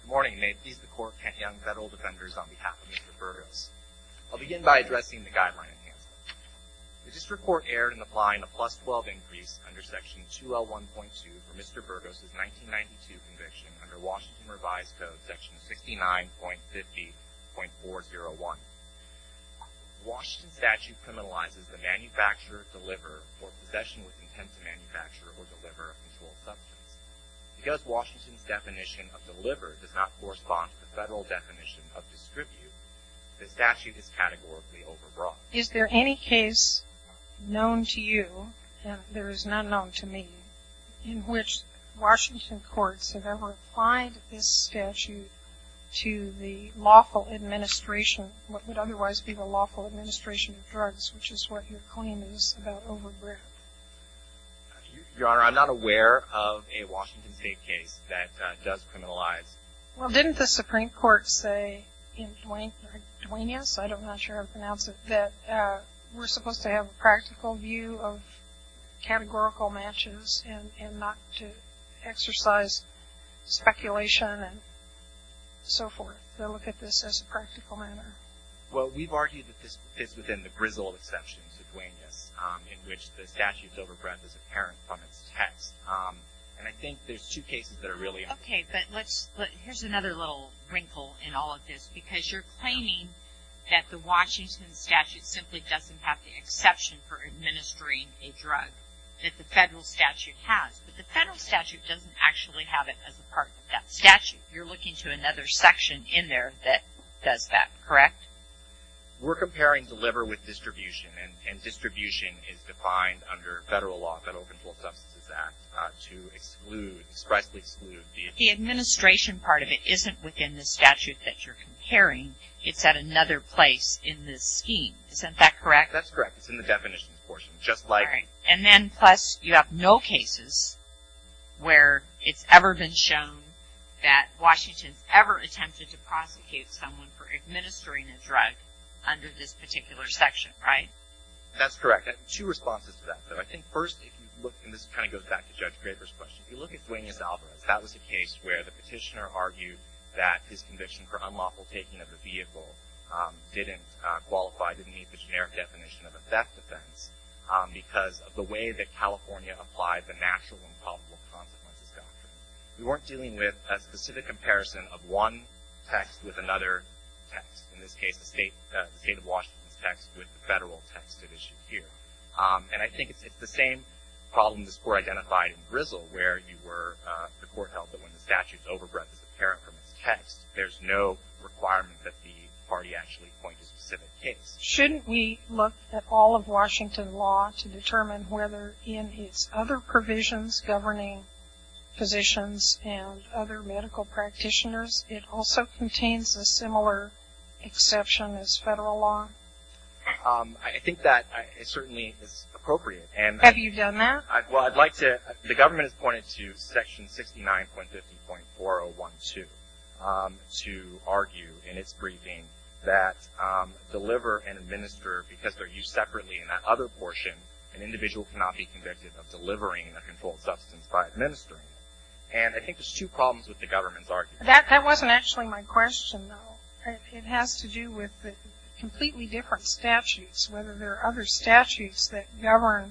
Good morning. May it please the Court to count young federal defenders on behalf of Mr. Burgos. I'll begin by addressing the Guideline Enhancement. The District Court erred in applying a plus-12 increase under Section 2L1.2 for Mr. Burgos' 1992 conviction under Washington Revised Code Section 69.50.401. The Washington statute criminalizes the manufacturer, deliverer, or possession with intent to manufacture or deliver a controlled substance. Because Washington's definition of deliver does not correspond to the federal definition of distribute, the statute is categorically overbroad. Is there any case known to you, and there is none known to me, in which Washington courts have ever applied this statute to the lawful administration, what would otherwise be the lawful administration of drugs, which is what your claim is about overbreadth? Your Honor, I'm not aware of a Washington State case that does criminalize. Well, didn't the Supreme Court say in Duenas, I'm not sure how to pronounce it, that we're supposed to have a practical view of categorical matches and not to exercise speculation and so forth, to look at this as a practical matter? Well, we've argued that this fits within the grizzled exceptions of Duenas, in which the statute's overbreadth is apparent from its text. And I think there's two cases that are really unclear. Okay, but let's, here's another little wrinkle in all of this, because you're claiming that the Washington statute simply doesn't have the exception for administering a drug, that the federal statute has. But the federal statute doesn't actually have it as a part of that statute. You're looking to another section in there that does that, correct? We're comparing deliver with distribution, and distribution is defined under federal law, Federal Controlled Substances Act, to exclude, expressly exclude the... The administration part of it isn't within the statute that you're comparing. It's at another place in this scheme. Isn't that correct? That's correct. It's in the definitions portion, just like... And then, plus, you have no cases where it's ever been shown that Washington's ever attempted to prosecute someone for administering a drug under this particular section, right? That's correct. Two responses to that, though. I think first, if you look, and this kind of goes back to Judge Graber's question, if you look at Duenas Alvarez, that was a case where the petitioner argued that his conviction for unlawful taking of the vehicle didn't qualify, didn't meet the generic definition of a theft offense, because of the way that California applied the natural and probable consequences doctrine. We weren't dealing with a specific comparison of one text with another text. In this case, the state of Washington's text with the federal text it issued here. And I think it's the same problem this Court identified in Grizzle, where you were, the Court held that when the statute's overbreadth is apparent from its text, there's no requirement that the party actually point to a specific case. Shouldn't we look at all of Washington law to determine whether, in its other provisions governing physicians and other medical practitioners, it also contains a similar exception as federal law? I think that it certainly is appropriate. Have you done that? Well, I'd like to. The government has pointed to section 69.15.4012 to argue in its briefing that deliver and administer because they're used separately in that other portion, an individual cannot be convicted of delivering a controlled substance by administering it. And I think there's two problems with the government's argument. That wasn't actually my question, though. It has to do with the completely different statutes, whether there are other statutes that govern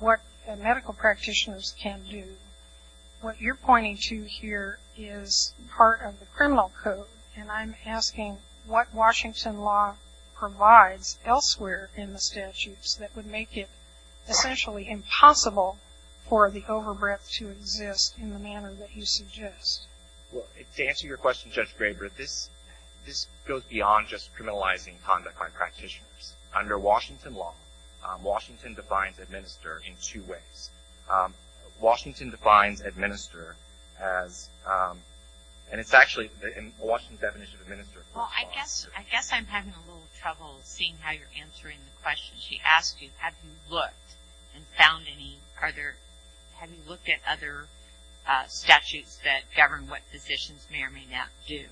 what medical practitioners can do. What you're pointing to here is part of the criminal code, and I'm asking what Washington law provides elsewhere in the statutes that would make it essentially impossible for the overbreadth to exist in the manner that you suggest. Well, to answer your question, Judge Graber, this goes beyond just criminalizing conduct by practitioners. Under Washington law, Washington defines administer in two ways. Washington defines administer as, and it's actually in Washington's definition of administer. Well, I guess I'm having a little trouble seeing how you're answering the question. She asked you, have you looked and found any, have you looked at other statutes that govern what physicians may or may not do?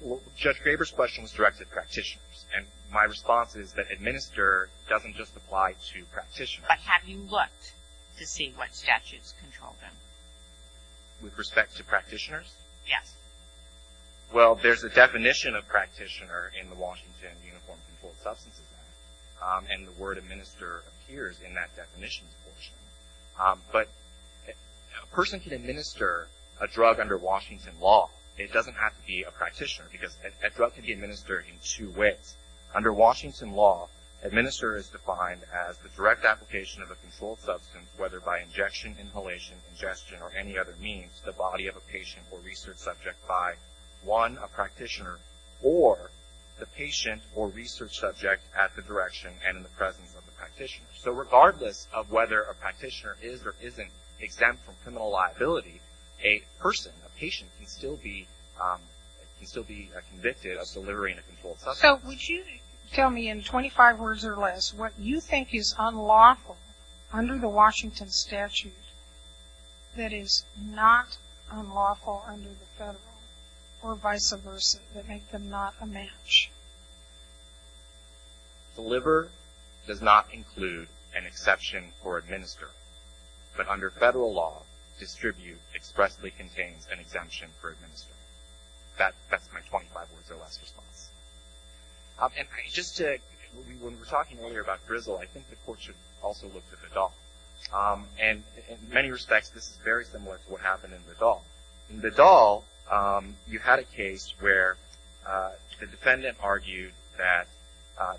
Well, Judge Graber's question was directed at practitioners, and my response is that administer doesn't just apply to practitioners. But have you looked to see what statutes control them? With respect to practitioners? Yes. Well, there's a definition of practitioner in the Washington Uniform Controlled Substances Act, and the word administer appears in that definitions portion. But a person can administer a drug under Washington law. It doesn't have to be a practitioner because a drug can be administered in two ways. Under Washington law, administer is defined as the direct application of a controlled substance, whether by injection, inhalation, ingestion, or any other means, the body of a patient or research subject by, one, a practitioner, or the patient or research subject at the direction and in the presence of the practitioner. So regardless of whether a practitioner is or isn't exempt from criminal liability, a person, a patient can still be convicted of delivering a controlled substance. So would you tell me in 25 words or less what you think is unlawful under the Washington statute that is not unlawful under the federal or vice versa, that make them not a match? Deliver does not include an exception for administer. But under federal law, distribute expressly contains an exemption for administer. That's my 25 words or less response. And just to, when we were talking earlier about drizzle, I think the court should also look to the dog. And in many respects, this is very similar to what happened in the doll. In the doll, you had a case where the defendant argued that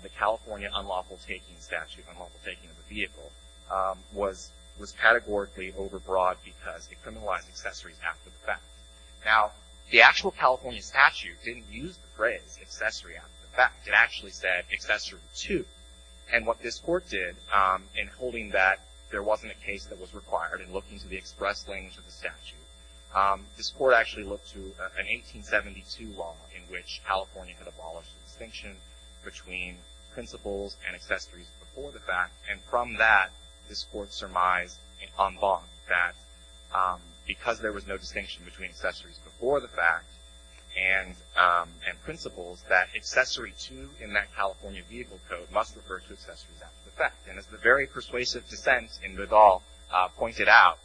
the California unlawful taking statute, unlawful taking of a vehicle, was categorically overbroad because it criminalized accessories after the fact. Now, the actual California statute didn't use the phrase accessory after the fact. It actually said accessory two. And what this court did in holding that there wasn't a case that was required in looking to the express language of the statute, this court actually looked to an 1872 law in which California had abolished the distinction between principles and accessories before the fact. And from that, this court surmised on bond that because there was no distinction between accessories before the fact and principles, that accessory two in that California vehicle code must refer to accessories after the fact. And as the very persuasive dissent in the doll pointed out,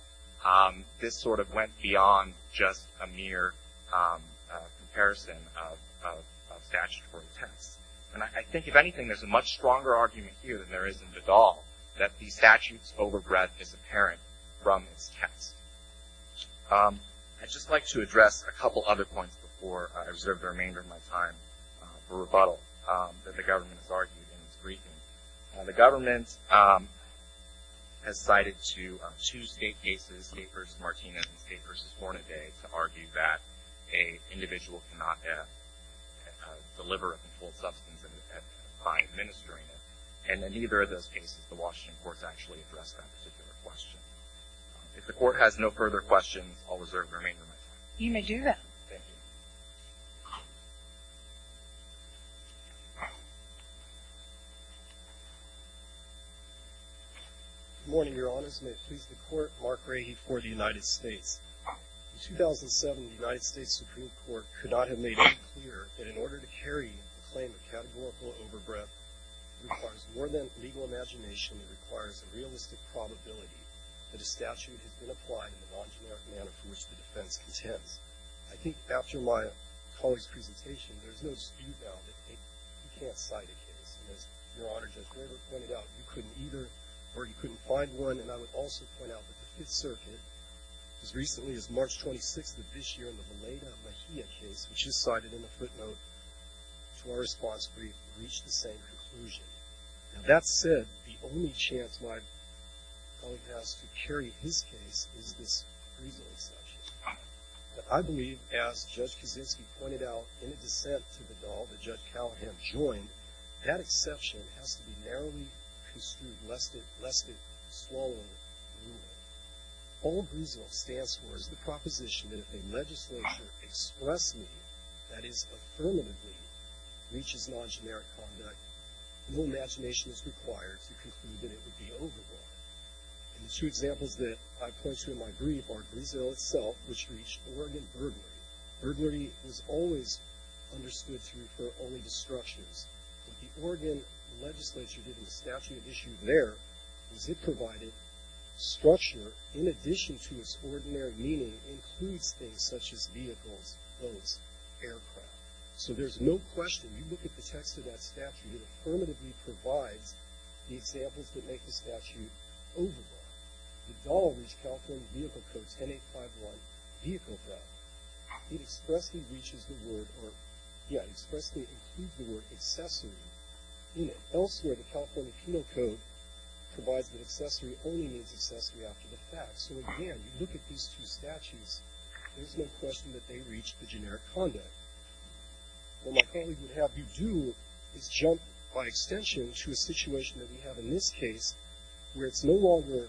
this sort of went beyond just a mere comparison of statutory tests. And I think, if anything, there's a much stronger argument here than there is in the doll that the statute's overbreadth is apparent from its test. I'd just like to address a couple other points before I reserve the remainder of my time for rebuttal that the government has argued in this briefing. The government has cited two state cases, State v. Martinez and State v. Hornaday, to argue that an individual cannot deliver a controlled substance by administering it. And in neither of those cases, the Washington courts actually addressed that particular question. If the court has no further questions, I'll reserve the remainder of my time. You may do that. Thank you. Good morning, Your Honors. May it please the Court, Mark Rahe for the United States. In 2007, the United States Supreme Court could not have made it clear that in order to carry a claim of categorical overbreadth, it requires more than legal imagination. It requires a realistic probability that a statute has been applied in the non-generic manner for which the defense contends. I think, after my colleague's presentation, there's no dispute now that you can't cite a case. And as Your Honor, Judge Graber pointed out, you couldn't either, or you couldn't find one. And I would also point out that the Fifth Circuit, as recently as March 26th of this year, in the Valeda-Mejia case, which is cited in the footnote, to our response brief, reached the same conclusion. Now, that said, the only chance my colleague has to carry his case is this Griesel exception. I believe, as Judge Kaczynski pointed out in a dissent to the Dahl that Judge Callahan joined, that exception has to be narrowly construed, lest it swallow the rule. All Griesel stands for is the proposition that if a legislature expressedly, that is, affirmatively, reaches non-generic conduct, no imagination is required to conclude that it would be overruled. And the two examples that I point to in my brief are Griesel itself, which reached Oregon burglary. Burglary was always understood to refer only to structures. What the Oregon legislature did in the statute issued there was it provided structure in addition to its ordinary meaning includes things such as vehicles, boats, aircraft. So there's no question, you look at the text of that statute, it affirmatively provides the examples that make the statute overruled. The Dahl reached California Vehicle Code 10851, vehicle theft. It expressly reaches the word, or yeah, expressly includes the word accessory in it. Elsewhere, the California Penal Code provides that accessory only means accessory after the fact. So again, you look at these two statutes, there's no question that they reached the generic conduct. What my colleague would have you do is jump by extension to a situation that we have in this case, where it's no longer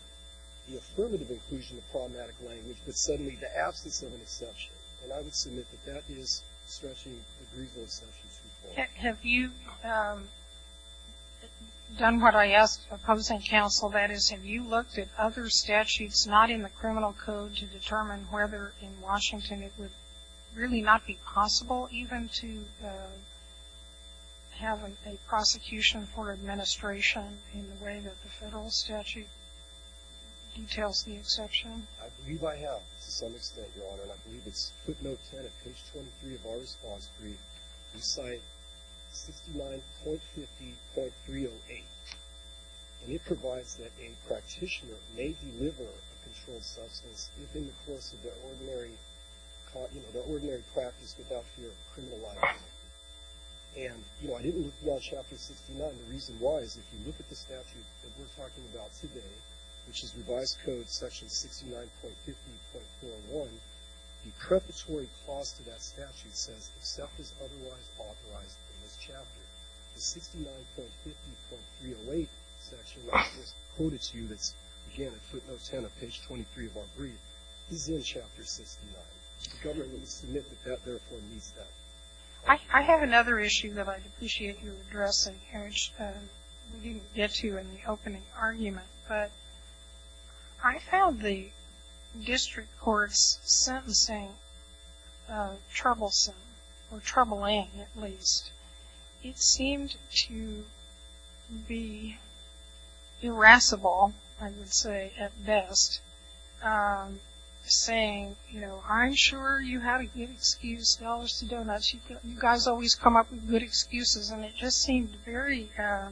the affirmative inclusion of problematic language, but suddenly the absence of an exception. And I would submit that that is stretching the Griesel exception too far. Have you done what I asked opposing counsel, that is, have you looked at other statutes not in the criminal code to determine whether in Washington it would really not be possible even to have a prosecution for administration in the way that the federal statute details the exception? I believe I have to some extent, Your Honor. And I believe it's footnote 10 at page 23 of our response brief. We cite 69.50.308. And it provides that a practitioner may deliver a controlled substance if in the course of their ordinary practice without fear of criminal liability. And I didn't look at Chapter 69. The reason why is if you look at the statute that we're talking about today, which is revised code section 69.50.401, the preparatory clause to that statute says, except as otherwise authorized in this chapter, the 69.50.308 section that was quoted to you that's, again, at footnote 10 of page 23 of our brief, is in Chapter 69. The government would submit that that therefore needs that. I have another issue that I'd appreciate you addressing, which we didn't get to in the opening argument. But I found the district court's sentencing troublesome, or troubling at least. It seemed to be irascible, I would say, at best, saying, you know, I'm sure you had a good excuse, dollars to donuts. You guys always come up with good excuses. And it just seemed very, I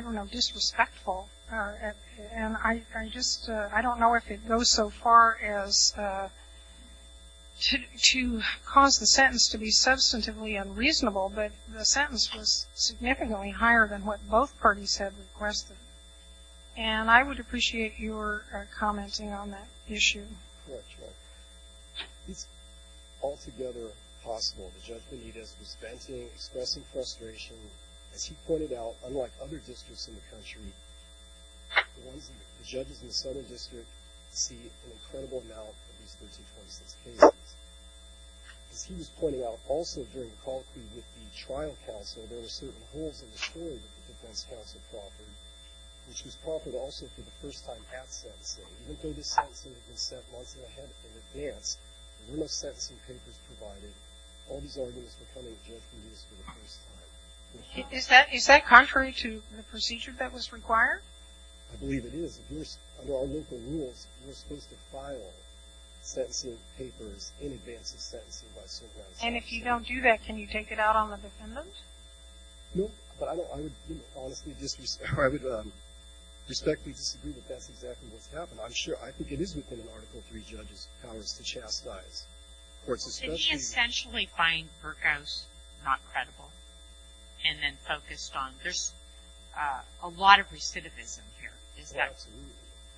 don't know, disrespectful. And I just, I don't know if it goes so far as to cause the sentence to be substantively unreasonable, but the sentence was significantly higher than what both parties had requested. And I would appreciate your commenting on that issue. It's altogether possible that Judge Benitez was venting, expressing frustration, as he pointed out, unlike other districts in the country, the judges in the Southern District see an incredible amount of these 1326 cases. As he was pointing out, also during the colloquy with the trial counsel, there were certain holes in the story that the defense counsel proffered, which was proffered also for the first time at sentencing. Even though this sentencing had been set months ahead in advance, the room of sentencing papers provided, all these arguments were coming to Judge Benitez for the first time. Is that contrary to the procedure that was required? I believe it is. Under our local rules, you're supposed to file sentencing papers in advance of sentencing by some grounds. And if you don't do that, can you take it out on the defendant? No, but I would respectfully disagree that that's exactly what's happened. I'm sure. I think it is within an Article III judge's powers to chastise. Well, did he essentially find Burkhaus not credible? And then focused on, there's a lot of recidivism here. Absolutely.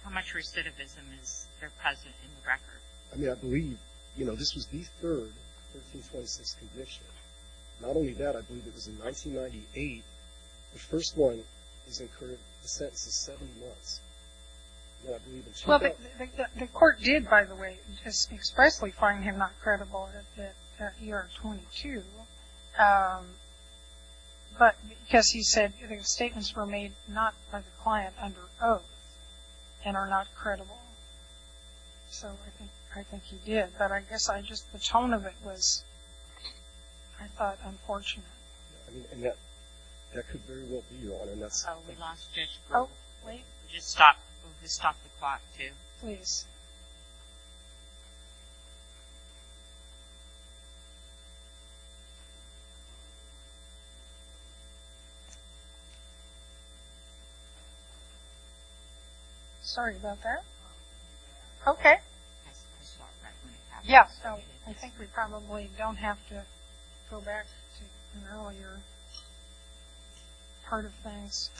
How much recidivism is there present in the record? I mean, I believe, you know, this was the third 1326 conviction. Not only that, I believe it was in 1998. The first one is incurred a sentence of 70 months. And I believe it's true. Well, the court did, by the way, expressly find him not credible at year 22. But because he said the statements were made not by the client under oath and are not credible. So I think he did. But I guess I just, the tone of it was, I thought, unfortunate. I mean, and that could very well be your honor. Oh, wait. Just stop the clock, too. Please. Sorry about that. Okay. Yeah, so I think we probably don't have to go back to an earlier part of things.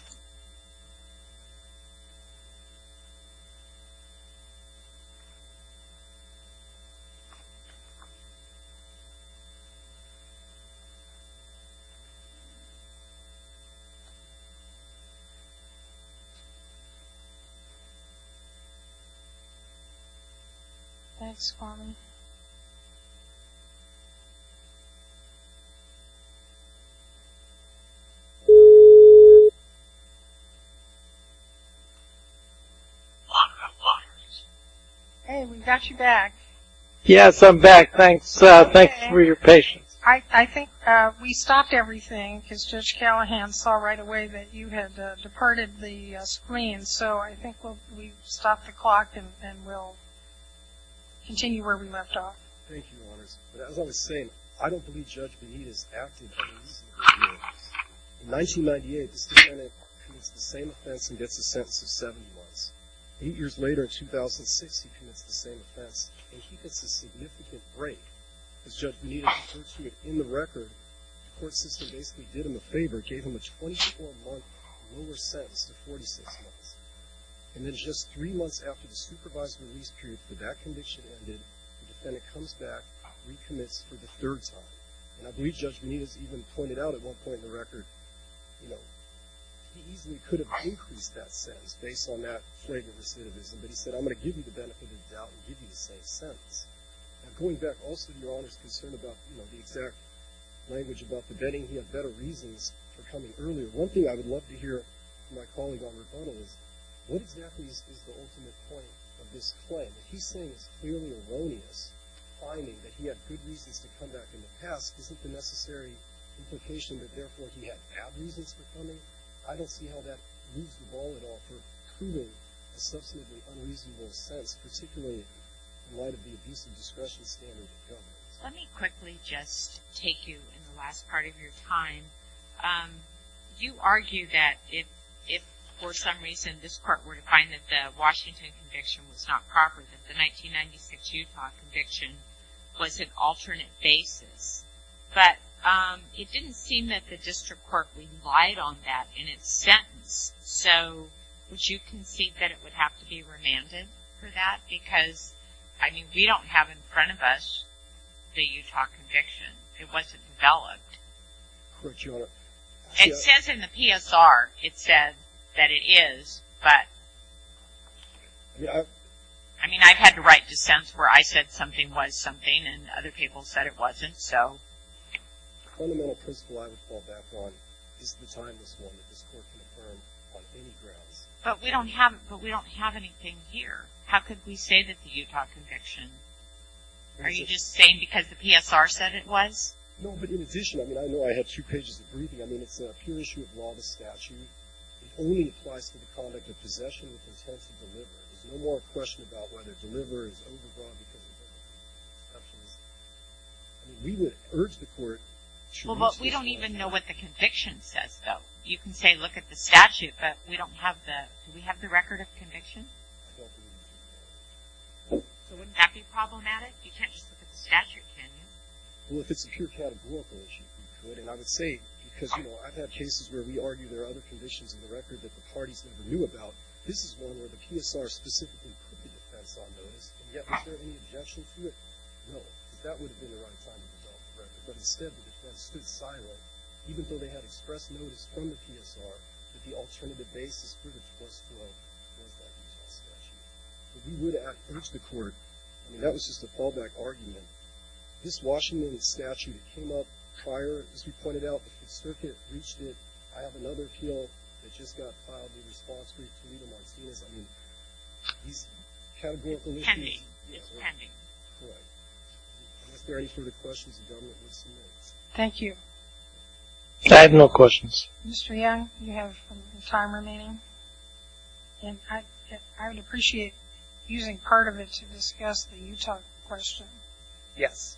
Thanks, Carmen. Hey, we've got you back. Yes, I'm back. Thanks for your patience. I think we stopped everything because Judge Callahan saw right away that you had departed the screen. And so I think we'll stop the clock and we'll continue where we left off. Thank you, Your Honors. But as I was saying, I don't believe Judge Bonita is active in these hearings. In 1998, this defendant commits the same offense and gets a sentence of 70 months. Eight years later, in 2006, he commits the same offense, and he gets a significant break. As Judge Bonita referred to it in the record, the court system basically did him a favor, gave him a 24-month lower sentence to 46 months. And then just three months after the supervised release period for that conviction ended, the defendant comes back, recommits for the third time. And I believe Judge Bonita has even pointed out at one point in the record, you know, he easily could have increased that sentence based on that flavor recidivism, but he said, I'm going to give you the benefit of the doubt and give you the same sentence. Now, going back also to Your Honor's concern about, you know, the exact language about the betting, he had better reasons for coming earlier. One thing I would love to hear from my colleague, Honor McDonald, is what exactly is the ultimate point of this claim? What he's saying is clearly erroneous. Finding that he had good reasons to come back in the past isn't the necessary implication that therefore he had bad reasons for coming. I don't see how that moves the ball at all for proving a substantively unreasonable sense, particularly in light of the abuse of discretion standard. Go ahead. Let me quickly just take you in the last part of your time. You argue that if, for some reason, this court were to find that the Washington conviction was not proper, that the 1996 Utah conviction was an alternate basis. But it didn't seem that the district court relied on that in its sentence. So would you concede that it would have to be remanded for that? Because, I mean, we don't have in front of us the Utah conviction. It wasn't developed. Correct, Your Honor. It says in the PSR it said that it is, but I mean, I've had to write dissents where I said something was something and other people said it wasn't, so. The fundamental principle I would fall back on is the timeless one that this court can affirm on any grounds. But we don't have anything here. How could we say that the Utah conviction? Are you just saying because the PSR said it was? No, but in addition, I mean, I know I had two pages of briefing. I mean, it's a pure issue of law to statute. It only applies to the conduct of possession with the intent to deliver. There's no more question about whether deliver is overbought because of the statute. I mean, we would urge the court. Well, but we don't even know what the conviction says, though. You can say look at the statute, but we don't have that. Do we have the record of conviction? That be problematic? You can't just look at the statute, can you? Well, if it's a pure categorical issue, we could. And I would say because, you know, I've had cases where we argue there are other conditions in the record that the parties never knew about. This is one where the PSR specifically put the defense on notice, and yet was there any objection to it? No, because that would have been the right time to develop the record. But instead, the defense stood silent, even though they had expressed notice from the PSR that the alternative basis for the forced flow was that Utah statute. But we would urge the court. I mean, that was just a fallback argument. This Washington statute, it came up prior, as we pointed out, the circuit reached it. I have another appeal that just got filed in response to Toledo Martinez. I mean, these categorical issues. It's pending. It's pending. Correct. Unless there are any further questions, the gentleman wants some minutes. Thank you. I have no questions. Mr. Young, you have some time remaining. And I would appreciate using part of it to discuss the Utah question. Yes.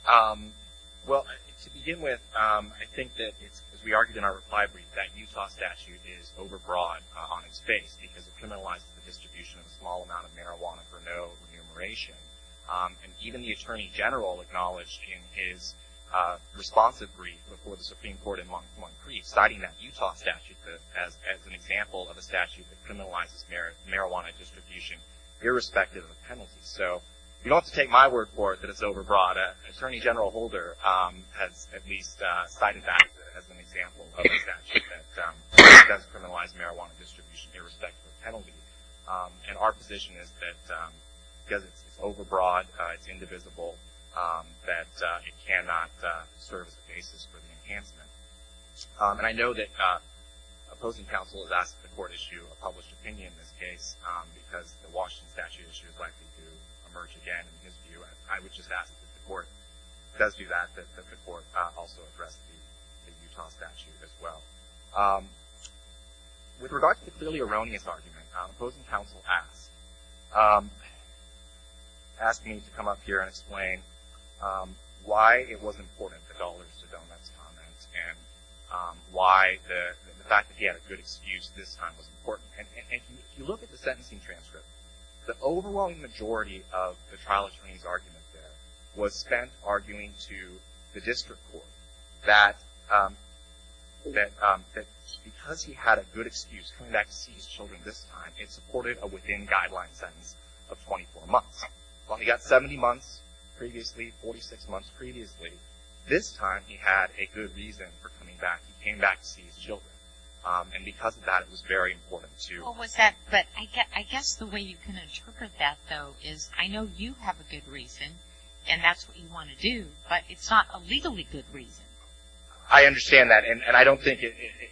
Well, to begin with, I think that, as we argued in our reply brief, that Utah statute is overbroad on its face, because it criminalizes the distribution of a small amount of marijuana for no remuneration. And even the Attorney General acknowledged in his responsive brief before the Supreme Court in Montgomery, citing that Utah statute as an example of a statute that criminalizes marijuana distribution, irrespective of penalties. So you don't have to take my word for it that it's overbroad. Attorney General Holder has at least cited that as an example of a statute that does criminalize marijuana distribution, irrespective of penalty. And our position is that because it's overbroad, it's indivisible, that it cannot serve as a basis for the enhancement. And I know that opposing counsel has asked the court issue a published opinion in this case, because the Washington statute issue is likely to emerge again. In his view, I would just ask that the court does do that, that the court also address the Utah statute as well. With regard to the clearly erroneous argument, opposing counsel asked, asked me to come up here and explain why it was important, the dollars to donuts comments, and why the fact that he had a good excuse this time was important. And if you look at the sentencing transcript, the overwhelming majority of the trial attorney's argument there was spent arguing to the district court that because he had a good excuse coming back to see his children this time, it supported a within-guideline sentence of 24 months. Well, he got 70 months previously, 46 months previously. This time he had a good reason for coming back. He came back to see his children. And because of that, it was very important to I guess the way you can interpret that, though, is I know you have a good reason, and that's what you want to do, but it's not a legally good reason. I understand that. And I don't think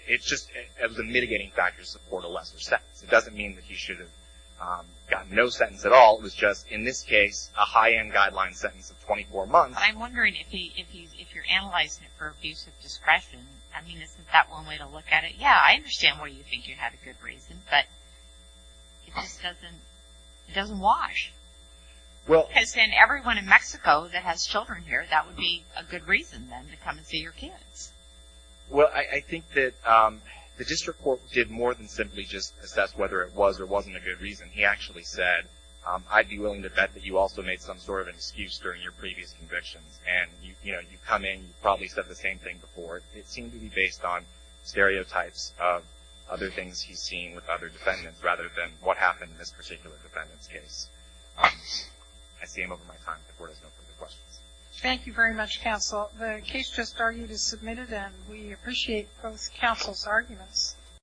it's just the mitigating factors support a lesser sentence. It doesn't mean that he should have gotten no sentence at all. It was just, in this case, a high-end guideline sentence of 24 months. I'm wondering if you're analyzing it for abuse of discretion. I mean, isn't that one way to look at it? Yeah, I understand why you think you had a good reason, but it just doesn't wash. Because then everyone in Mexico that has children here, that would be a good reason then to come and see your kids. Well, I think that the district court did more than simply just assess whether it was or wasn't a good reason. He actually said, I'd be willing to bet that you also made some sort of an excuse during your previous convictions, and you come in, you probably said the same thing before. It seemed to be based on stereotypes of other things he's seen with other defendants rather than what happened in this particular defendant's case. I see I'm over my time. The Court has no further questions. Thank you very much, Counsel. The case just argued is submitted, and we appreciate both counsel's arguments.